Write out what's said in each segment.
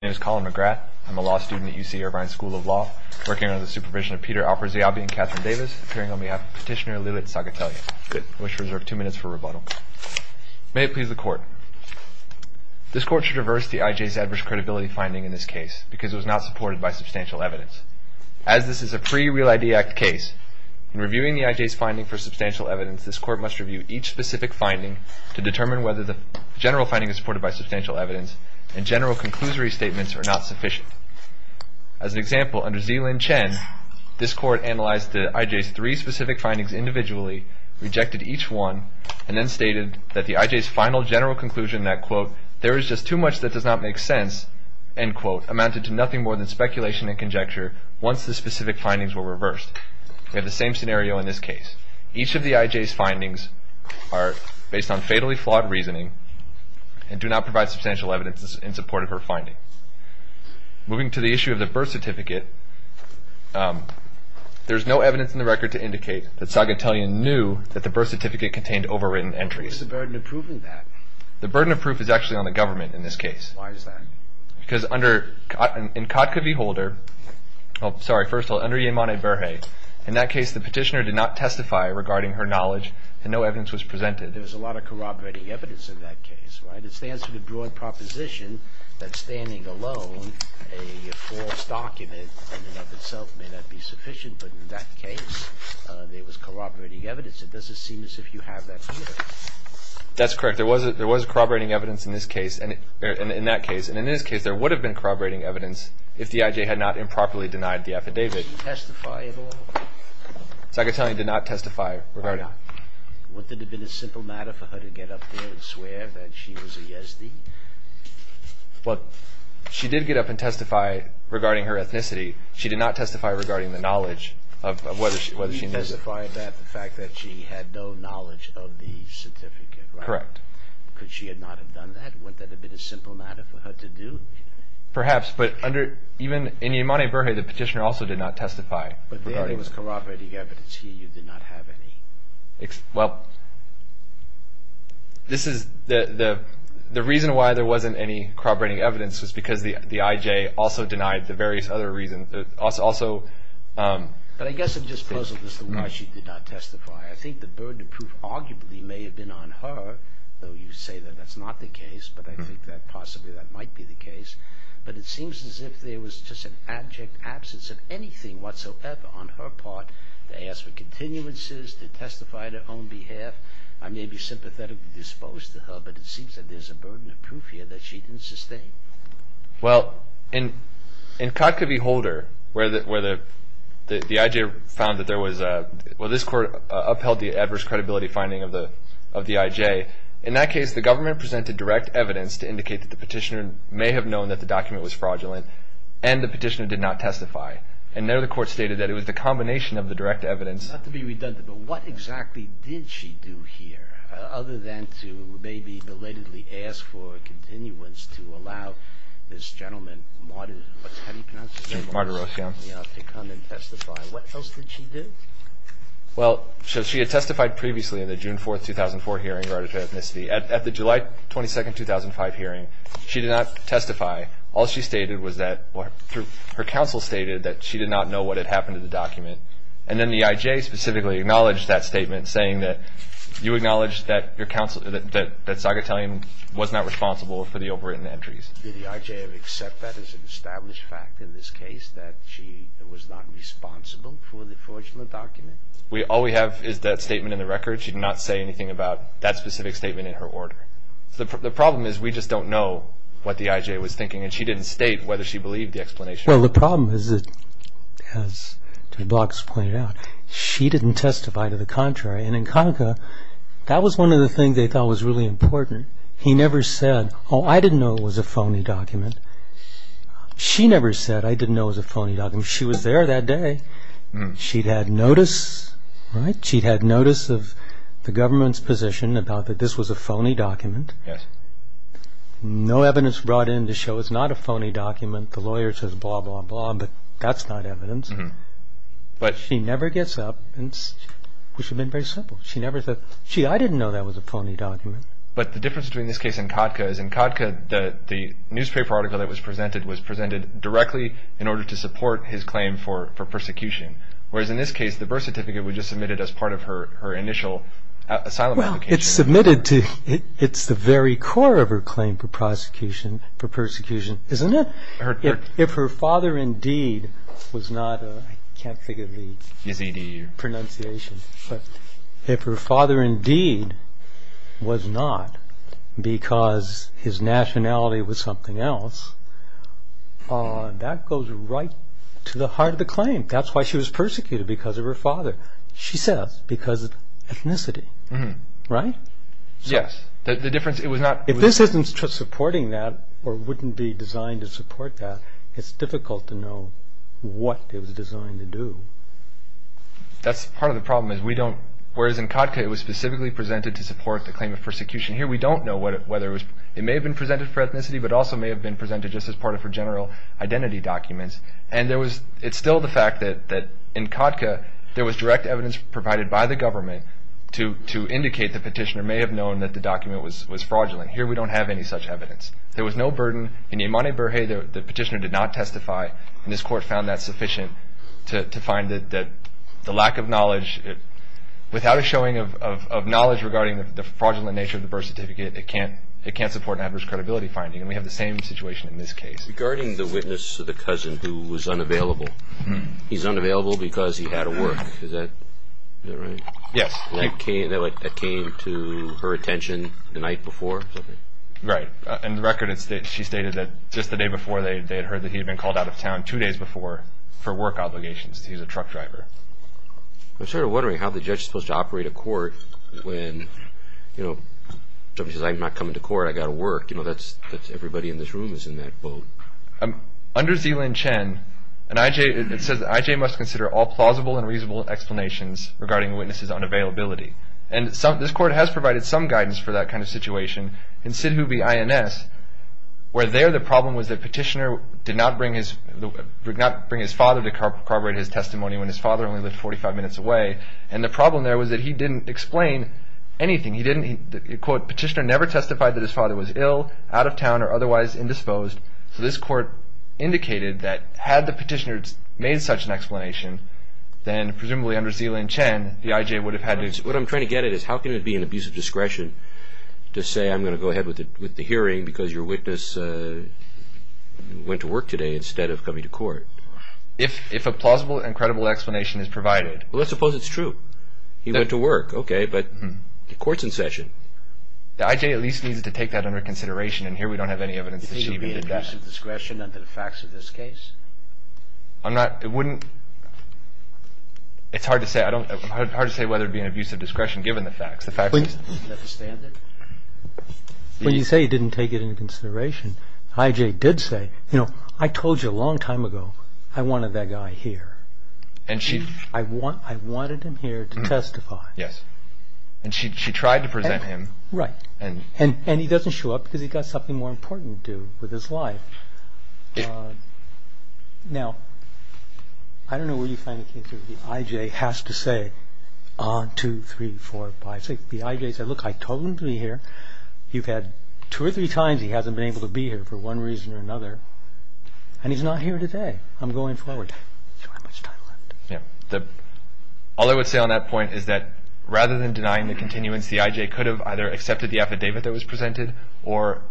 My name is Colin McGrath. I'm a law student at UC Irvine School of Law, working under the supervision of Peter Alperziabi and Catherine Davis, appearing on behalf of Petitioner Lillet Sagatelli. Good. I wish to reserve two minutes for rebuttal. May it please the Court. This Court should reverse the IJ's adverse credibility finding in this case because it was not supported by substantial evidence. As this is a pre-Real ID Act case, in reviewing the IJ's finding for substantial evidence, this Court must review each specific finding to determine whether the general finding is supported by substantial evidence and general conclusory statements are not sufficient. As an example, under Zilin Chen, this Court analyzed the IJ's three specific findings individually, rejected each one, and then stated that the IJ's final general conclusion that, quote, there is just too much that does not make sense, end quote, amounted to nothing more than speculation and conjecture once the specific findings were reversed. We have the same scenario in this case. Each of the IJ's findings are based on fatally flawed reasoning and do not provide substantial evidence in support of her finding. Moving to the issue of the birth certificate, there is no evidence in the record to indicate that Sagatelli knew that the birth certificate contained overwritten entries. What is the burden of proving that? The burden of proof is actually on the government in this case. Why is that? Because under, in Kotka v. Holder, oh, sorry, first of all, under Yemane Berhe, in that case the petitioner did not testify regarding her knowledge and no evidence was presented. There was a lot of corroborating evidence in that case, right? It stands for the broad proposition that standing alone a false document in and of itself may not be sufficient, but in that case there was corroborating evidence. It doesn't seem as if you have that here. That's correct. There was corroborating evidence in this case and in that case, and in this case there would have been corroborating evidence if the IJ had not improperly denied the affidavit. Did she testify at all? Sagatelli did not testify. Why not? Wouldn't it have been a simple matter for her to get up there and swear that she was a Yezdi? Well, she did get up and testify regarding her ethnicity. She did not testify regarding the knowledge of whether she knew. She testified that the fact that she had no knowledge of the certificate, right? Correct. Could she not have done that? Wouldn't that have been a simple matter for her to do? Perhaps, but even in Yemane-Berhe, the petitioner also did not testify. But there was corroborating evidence here. You did not have any. Well, this is the reason why there wasn't any corroborating evidence was because the IJ also denied the various other reasons. But I guess I'm just puzzled as to why she did not testify. I think the burden of proof arguably may have been on her, though you say that that's not the case, but I think that possibly that might be the case. But it seems as if there was just an abject absence of anything whatsoever on her part to ask for continuances, to testify on her own behalf. I may be sympathetically disposed to her, but it seems that there's a burden of proof here that she didn't sustain. Well, in Kotka v. Holder, where the IJ found that there was a— In that case, the government presented direct evidence to indicate that the petitioner may have known that the document was fraudulent and the petitioner did not testify. And there the court stated that it was the combination of the direct evidence— Not to be redundant, but what exactly did she do here other than to maybe belatedly ask for a continuance to allow this gentleman, Marder—what's his name? Marderosian. To come and testify. What else did she do? Well, she had testified previously in the June 4, 2004, hearing regarding her ethnicity. At the July 22, 2005, hearing, she did not testify. All she stated was that her counsel stated that she did not know what had happened to the document. And then the IJ specifically acknowledged that statement, saying that you acknowledged that your counsel— that Zagatelian was not responsible for the overwritten entries. Did the IJ accept that as an established fact in this case, that she was not responsible for the fraudulent document? All we have is that statement in the record. She did not say anything about that specific statement in her order. The problem is we just don't know what the IJ was thinking, and she didn't state whether she believed the explanation. Well, the problem is, as the blocks pointed out, she didn't testify to the contrary. And in Conaca, that was one of the things they thought was really important. He never said, oh, I didn't know it was a phony document. She never said, I didn't know it was a phony document. She was there that day. She'd had notice, right? She'd had notice of the government's position about that this was a phony document. No evidence brought in to show it's not a phony document. The lawyer says blah, blah, blah, but that's not evidence. But she never gets up, which would have been very simple. She never said, gee, I didn't know that was a phony document. But the difference between this case and Conaca is, in Conaca, the newspaper article that was presented, was presented directly in order to support his claim for persecution. Whereas in this case, the birth certificate was just submitted as part of her initial asylum application. Well, it's submitted to, it's the very core of her claim for prosecution, for persecution, isn't it? If her father indeed was not, I can't think of the pronunciation. If her father indeed was not because his nationality was something else, that goes right to the heart of the claim. That's why she was persecuted, because of her father, she says, because of ethnicity. Right? Yes. The difference, it was not... If this isn't supporting that, or wouldn't be designed to support that, it's difficult to know what it was designed to do. That's part of the problem, is we don't... Whereas in Conaca, it was specifically presented to support the claim of persecution. Here, we don't know whether it was... It may have been presented for ethnicity, but also may have been presented just as part of her general identity documents. And there was... It's still the fact that in Conaca, there was direct evidence provided by the government to indicate the petitioner may have known that the document was fraudulent. Here, we don't have any such evidence. There was no burden. In Yemane-Berhe, the petitioner did not testify, and this court found that sufficient to find that the lack of knowledge... Without a showing of knowledge regarding the fraudulent nature of the birth certificate, it can't support an adverse credibility finding, and we have the same situation in this case. Regarding the witness of the cousin who was unavailable, he's unavailable because he had to work. Is that right? Yes. That came to her attention the night before? Right. In the record, she stated that just the day before, they had heard that he had been called out of town two days before for work obligations. He was a truck driver. I'm sort of wondering how the judge is supposed to operate a court when somebody says, I'm not coming to court. I've got to work. That's everybody in this room is in that boat. Under Zilin Chen, it says that IJ must consider all plausible and reasonable explanations regarding the witness's unavailability. And this court has provided some guidance for that kind of situation. In Sidhubi INS, where there the problem was that Petitioner did not bring his father to corroborate his testimony when his father only lived 45 minutes away, and the problem there was that he didn't explain anything. He didn't, quote, Petitioner never testified that his father was ill, out of town, or otherwise indisposed. So this court indicated that had the Petitioner made such an explanation, then presumably under Zilin Chen, the IJ would have had to explain. What I'm trying to get at is how can it be an abuse of discretion to say I'm going to go ahead with the hearing because your witness went to work today instead of coming to court? If a plausible and credible explanation is provided. Well, let's suppose it's true. He went to work. Okay, but the court's in session. The IJ at least needs to take that under consideration, and here we don't have any evidence that Sidhubi did that. It would be an abuse of discretion under the facts of this case? I'm not, it wouldn't, it's hard to say, I don't, it's hard to say whether it would be an abuse of discretion given the facts. When you say he didn't take it into consideration, the IJ did say, you know, I told you a long time ago, I wanted that guy here. I wanted him here to testify. Yes. And she tried to present him. Right. And he doesn't show up because he's got something more important to do with his life. Now, I don't know where you finally came to, the IJ has to say, on two, three, four, five, six, the IJ said, look, I told him to be here. You've had two or three times he hasn't been able to be here for one reason or another, and he's not here today. I'm going forward. I don't know how much time left. Yeah. All I would say on that point is that rather than denying the continuance, the IJ could have either accepted the affidavit that was presented or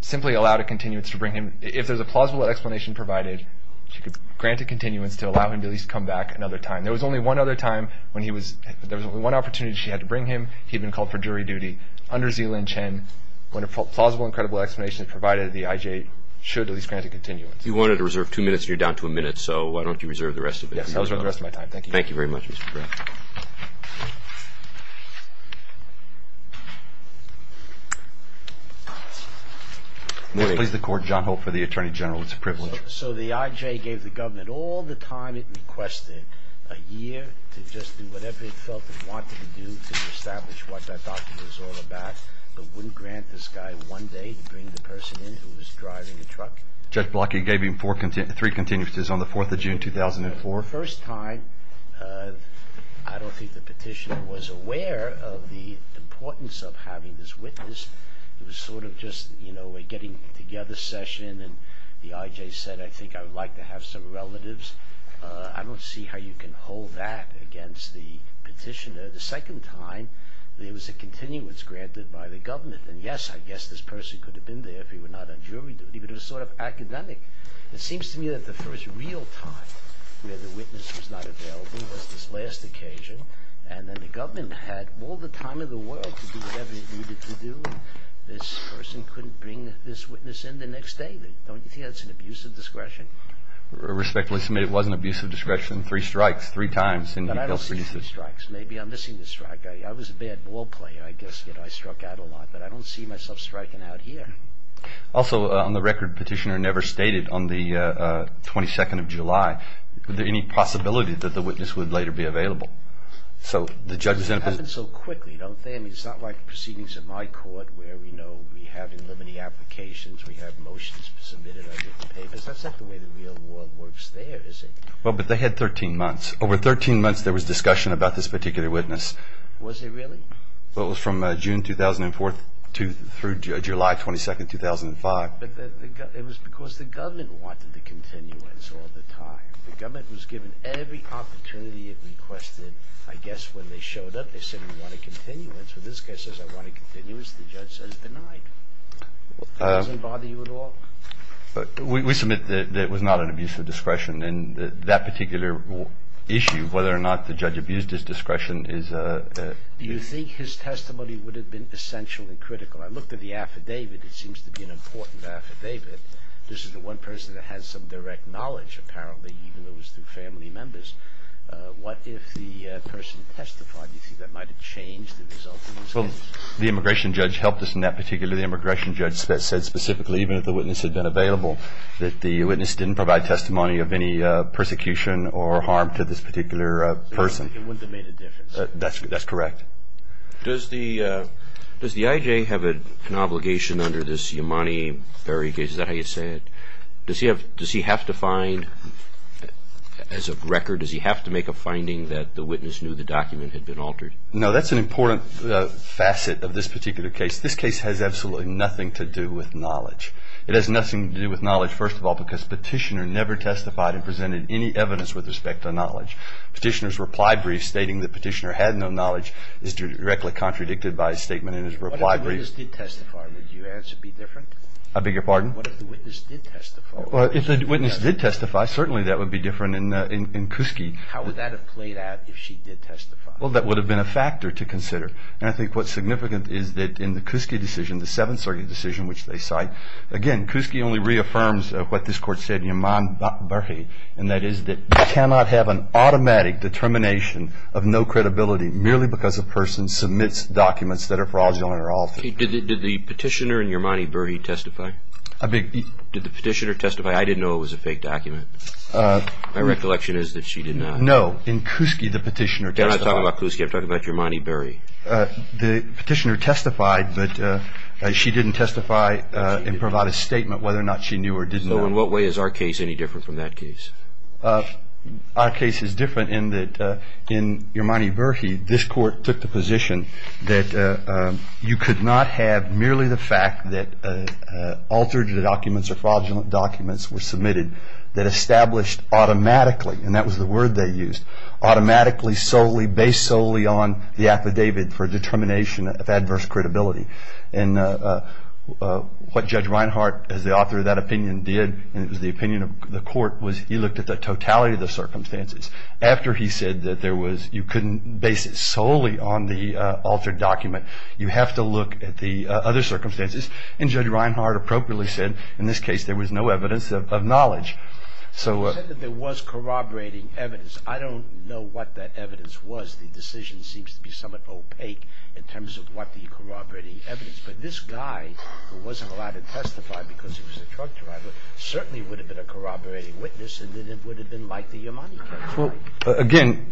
simply allowed a continuance to bring him, if there's a plausible explanation provided, she could grant a continuance to allow him to at least come back another time. There was only one other time when he was, there was only one opportunity she had to bring him. He had been called for jury duty. Under Zilin Chen, when a plausible and credible explanation is provided, the IJ should at least grant a continuance. You wanted to reserve two minutes, and you're down to a minute, so why don't you reserve the rest of it. Yes, I'll reserve the rest of my time. Thank you. Thank you very much, Mr. Brown. Morning. Please, the court. John Holt for the Attorney General. It's a privilege. So the IJ gave the government all the time it requested, a year, to just do whatever it felt it wanted to do to establish what that document was all about, but wouldn't grant this guy one day to bring the person in who was driving the truck? Judge Block, you gave him three continuances on the 4th of June, 2004. The first time, I don't think the petitioner was aware of the importance of having this witness. It was sort of just, you know, a getting together session, and the IJ said, I think I would like to have some relatives. I don't see how you can hold that against the petitioner. The second time, there was a continuance granted by the government, and yes, I guess this person could have been there if he were not on jury duty, but it was sort of academic. It seems to me that the first real time where the witness was not available was this last occasion, and then the government had all the time in the world to do whatever it needed to do. This person couldn't bring this witness in the next day. Don't you think that's an abuse of discretion? Respectfully submit, it was an abuse of discretion. Three strikes, three times. But I don't see any strikes. Maybe I'm missing the strike. I was a bad ball player, I guess. I struck out a lot, but I don't see myself striking out here. Also, on the record, petitioner never stated on the 22nd of July that there was any possibility that the witness would later be available. It happens so quickly, don't they? I mean, it's not like proceedings in my court where we know we have in limited applications, we have motions submitted, I get the papers. That's not the way the real world works there, is it? Well, but they had 13 months. Over 13 months, there was discussion about this particular witness. Was it really? Well, it was from June 2004 through July 22, 2005. But it was because the government wanted the continuance all the time. The government was given every opportunity it requested. I guess when they showed up, they said, we want a continuance. When this guy says, I want a continuance, the judge says, denied. It doesn't bother you at all? We submit that it was not an abuse of discretion. And that particular issue, whether or not the judge abused his discretion, is a... Do you think his testimony would have been essential and critical? I looked at the affidavit. It seems to be an important affidavit. This is the one person that has some direct knowledge, apparently, even though it was through family members. What if the person testified? Do you think that might have changed the results of these cases? Well, the immigration judge helped us in that particular... The immigration judge said specifically, even if the witness had been available, that the witness didn't provide testimony of any persecution or harm to this particular person. It wouldn't have made a difference? That's correct. Does the I.J. have an obligation under this Imani very case? Is that how you say it? Does he have to find, as of record, does he have to make a finding that the witness knew the document had been altered? No, that's an important facet of this particular case. This case has absolutely nothing to do with knowledge. It has nothing to do with knowledge, first of all, because Petitioner never testified and presented any evidence with respect to knowledge. Petitioner's reply brief stating that Petitioner had no knowledge is directly contradicted by his statement in his reply brief. What if the witness did testify? Would your answer be different? I beg your pardon? What if the witness did testify? If the witness did testify, certainly that would be different in Kuski. How would that have played out if she did testify? Well, that would have been a factor to consider. And I think what's significant is that in the Kuski decision, the Seventh Circuit decision, which they cite, again, Kuski only reaffirms what this Court said in Yermani-Berhe, and that is that you cannot have an automatic determination of no credibility merely because a person submits documents that are fraudulent or altered. Did the Petitioner in Yermani-Berhe testify? I beg your pardon? Did the Petitioner testify? I didn't know it was a fake document. My recollection is that she did not. No, in Kuski, the Petitioner testified. I'm not talking about Kuski. I'm talking about Yermani-Berhe. The Petitioner testified, but she didn't testify and provide a statement whether or not she knew or did not. So in what way is our case any different from that case? Our case is different in that in Yermani-Berhe, this Court took the position that you could not have merely the fact that altered documents or fraudulent documents were submitted that established automatically, and that was the word they used, automatically, solely, based solely on the affidavit for determination of adverse credibility. And what Judge Reinhardt, as the author of that opinion, did, and it was the opinion of the Court, was he looked at the totality of the circumstances. After he said that there was, you couldn't base it solely on the altered document. You have to look at the other circumstances. And Judge Reinhardt appropriately said, in this case, there was no evidence of knowledge. You said that there was corroborating evidence. I don't know what that evidence was. The decision seems to be somewhat opaque in terms of what the corroborating evidence. But this guy, who wasn't allowed to testify because he was a truck driver, certainly would have been a corroborating witness, and then it would have been like the Yermani case, right?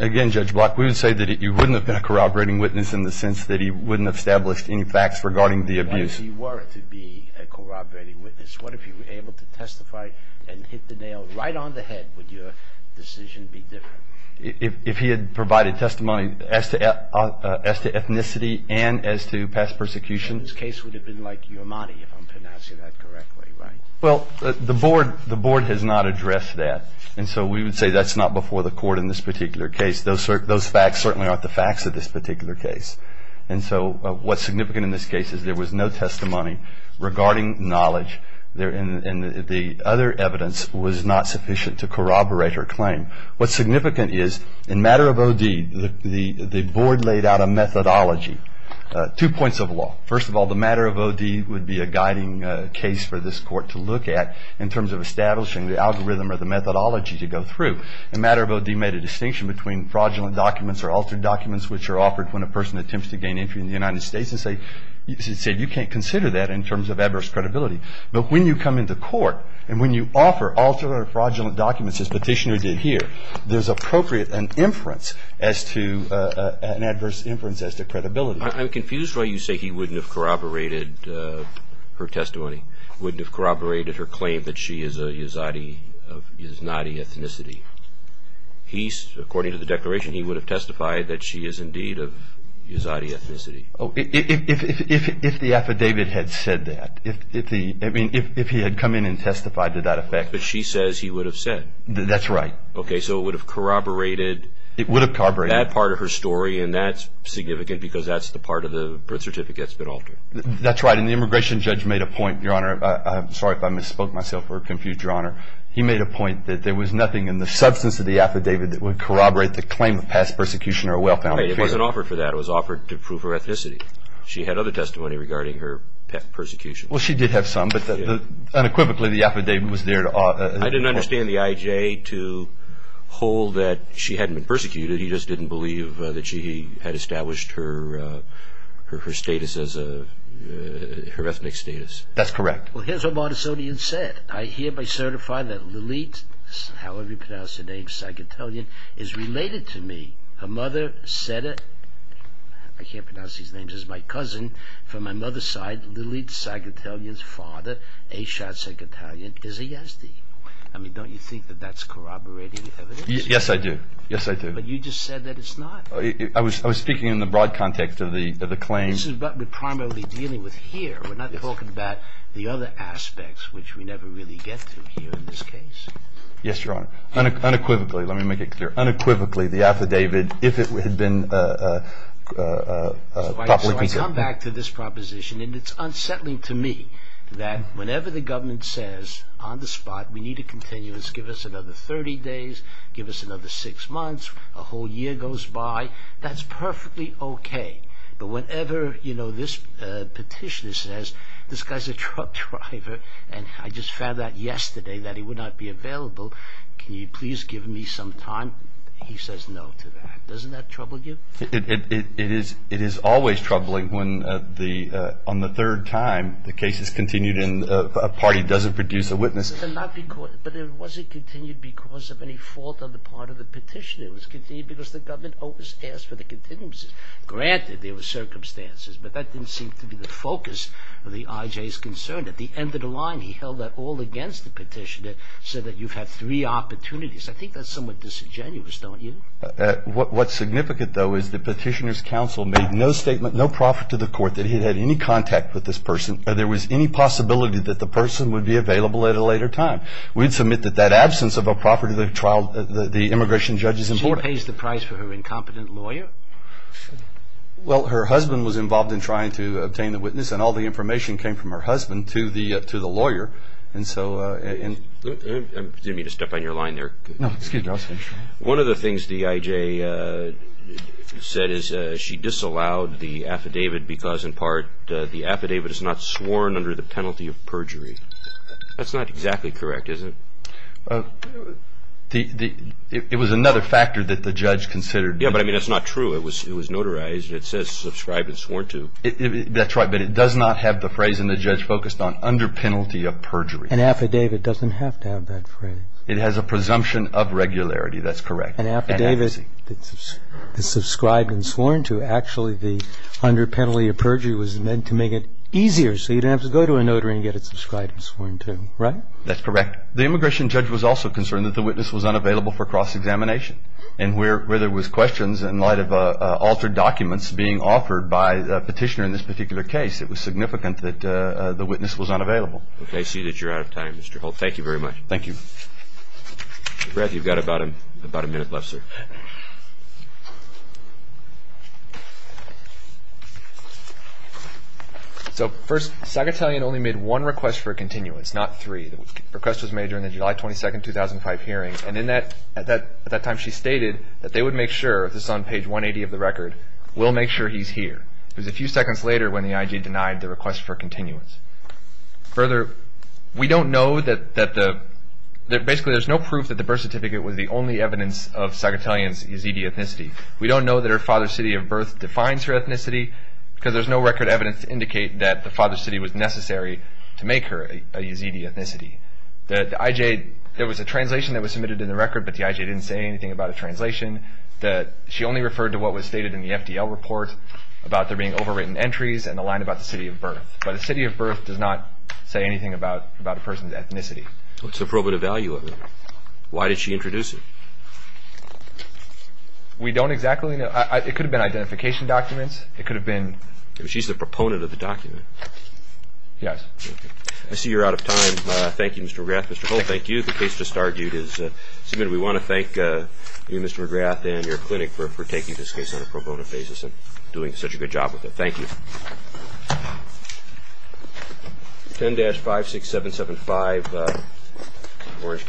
Again, Judge Block, we would say that you wouldn't have been a corroborating witness in the sense that he wouldn't have established any facts regarding the abuse. What if you were to be a corroborating witness? What if you were able to testify and hit the nail right on the head? Would your decision be different? If he had provided testimony as to ethnicity and as to past persecution? This case would have been like Yermani, if I'm pronouncing that correctly, right? Well, the Board has not addressed that. And so we would say that's not before the Court in this particular case. Those facts certainly aren't the facts of this particular case. And so what's significant in this case is there was no testimony regarding knowledge. And the other evidence was not sufficient to corroborate her claim. What's significant is in matter of OD, the Board laid out a methodology. Two points of law. First of all, the matter of OD would be a guiding case for this Court to look at in terms of establishing the algorithm or the methodology to go through. The matter of OD made a distinction between fraudulent documents or altered documents which are offered when a person attempts to gain entry in the United States and said, you can't consider that in terms of adverse credibility. But when you come into Court and when you offer altered or fraudulent documents as Petitioner did here, there's appropriate and inference as to an adverse inference as to credibility. I'm confused why you say he wouldn't have corroborated her testimony, wouldn't have corroborated her claim that she is a Yazidi of Yaznadi ethnicity. He, according to the declaration, he would have testified that she is indeed of Yaznadi ethnicity. Oh, if the affidavit had said that, if he had come in and testified to that effect. But she says he would have said. That's right. Okay, so it would have corroborated that part of her story and that's significant because that's the part of the birth certificate that's been altered. That's right. And the immigration judge made a point, Your Honor. I'm sorry if I misspoke myself or confused Your Honor. He made a point that there was nothing in the substance of the affidavit that would corroborate the claim of past persecution or a well-founded fear. Right, it wasn't offered for that. It was offered to prove her ethnicity. She had other testimony regarding her persecution. Well, she did have some, but unequivocally the affidavit was there to... I didn't understand the I.J. to hold that she hadn't been persecuted. He just didn't believe that she had established her status as a... her ethnic status. That's correct. Well, here's what Martissonian said. I hereby certify that Lilit, however you pronounce the name, Sagittalian, is related to me. Her mother said it. I can't pronounce these names. It's my cousin. From my mother's side, Lilit Sagittalian's father, Ashot Sagittalian, is a Yazidi. I mean, don't you think that that's corroborating evidence? Yes, I do. Yes, I do. But you just said that it's not. I was speaking in the broad context of the claim... This is what we're primarily dealing with here. We're not talking about the other aspects, which we never really get to here in this case. Yes, Your Honor. Unequivocally, let me make it clear, unequivocally, the affidavit, if it had been... So I come back to this proposition and it's unsettling to me that whenever the government says on the spot, we need a continuance, give us another 30 days, give us another six months, a whole year goes by, that's perfectly okay. But whenever, you know, this petitioner says, this guy's a truck driver and I just found out yesterday that he would not be available, can you please give me some time? He says no to that. Doesn't that trouble you? It is always troubling when on the third time the case is continued and a party doesn't produce a witness. But it wasn't continued because of any fault on the part of the petitioner. It was continued because the government always asked for the continuances. Granted, there were circumstances, but that didn't seem to be the focus of the IJ's concern. At the end of the line, he held that all against the petitioner, said that you've had three opportunities. I think that's somewhat disingenuous, don't you? What's significant, though, is the petitioner's counsel made no statement, no profit to the court that he'd had any contact with this person. There was any possibility that the person would be available at a later time. We'd submit that that absence of a profit to the trial, the immigration judge, is important. She pays the price for her incompetent lawyer? Well, her husband was involved in trying to obtain the witness and all the information came from her husband to the lawyer. Excuse me to step on your line there. No, excuse me. One of the things the IJ said is she disallowed the affidavit because in part the affidavit is not sworn under the penalty of perjury. That's not exactly correct, is it? It was another factor that the judge considered. Yeah, but I mean that's not true. It was notarized. It says subscribed and sworn to. That's right, but it does not have the phrase in the judge focused on under penalty of perjury. An affidavit doesn't have to have that phrase. It has a presumption of regularity. That's correct. An affidavit that's subscribed and sworn to, actually the under penalty of perjury was meant to make it easier so you didn't have to go to a notary and get it subscribed and sworn to. Right? That's correct. The immigration judge was also concerned that the witness was unavailable for cross-examination and where there was questions in light of altered documents being offered by the petitioner in this particular case, it was significant that the witness was unavailable. Okay, I see that you're out of time, Mr. Holt. Thank you very much. Thank you. Brad, you've got about a minute left, sir. So first, Sagatellian only made one request for continuance, not three. The request was made during the July 22, 2005 hearing and at that time she stated that they would make sure if it's on page 180 of the record, we'll make sure he's here. It was a few seconds later when the IG denied the request for continuance. Further, we don't know that basically there's no proof that the birth certificate was the only evidence of Sagatellian's Yazidi ethnicity. We don't know that her father's city of birth defines her ethnicity because there's no record of evidence to indicate that the father's city was necessary to make her a Yazidi ethnicity. The IJ, there was a translation that was submitted in the record but the IJ didn't say anything about a translation. She only referred to what was stated in the FDL report about there being overwritten entries and the line about the city of birth. But the city of birth does not say anything about a person's ethnicity. What's the probative value of it? Why did she introduce it? We don't exactly know. It could have been identification documents. It could have been identification documents. She's the proponent of the document. Yes. I see you're out of time. Thank you, Mr. McGrath. Mr. Hull, thank you. The case just argued is submitted. We want to thank you, Mr. McGrath, and your clinic for taking this case 10-56775 10-56775 10-56775 10-56775 10-56775 10-56775 10-56775 10-56775 11-56775 11-56775 11-56775 11-56775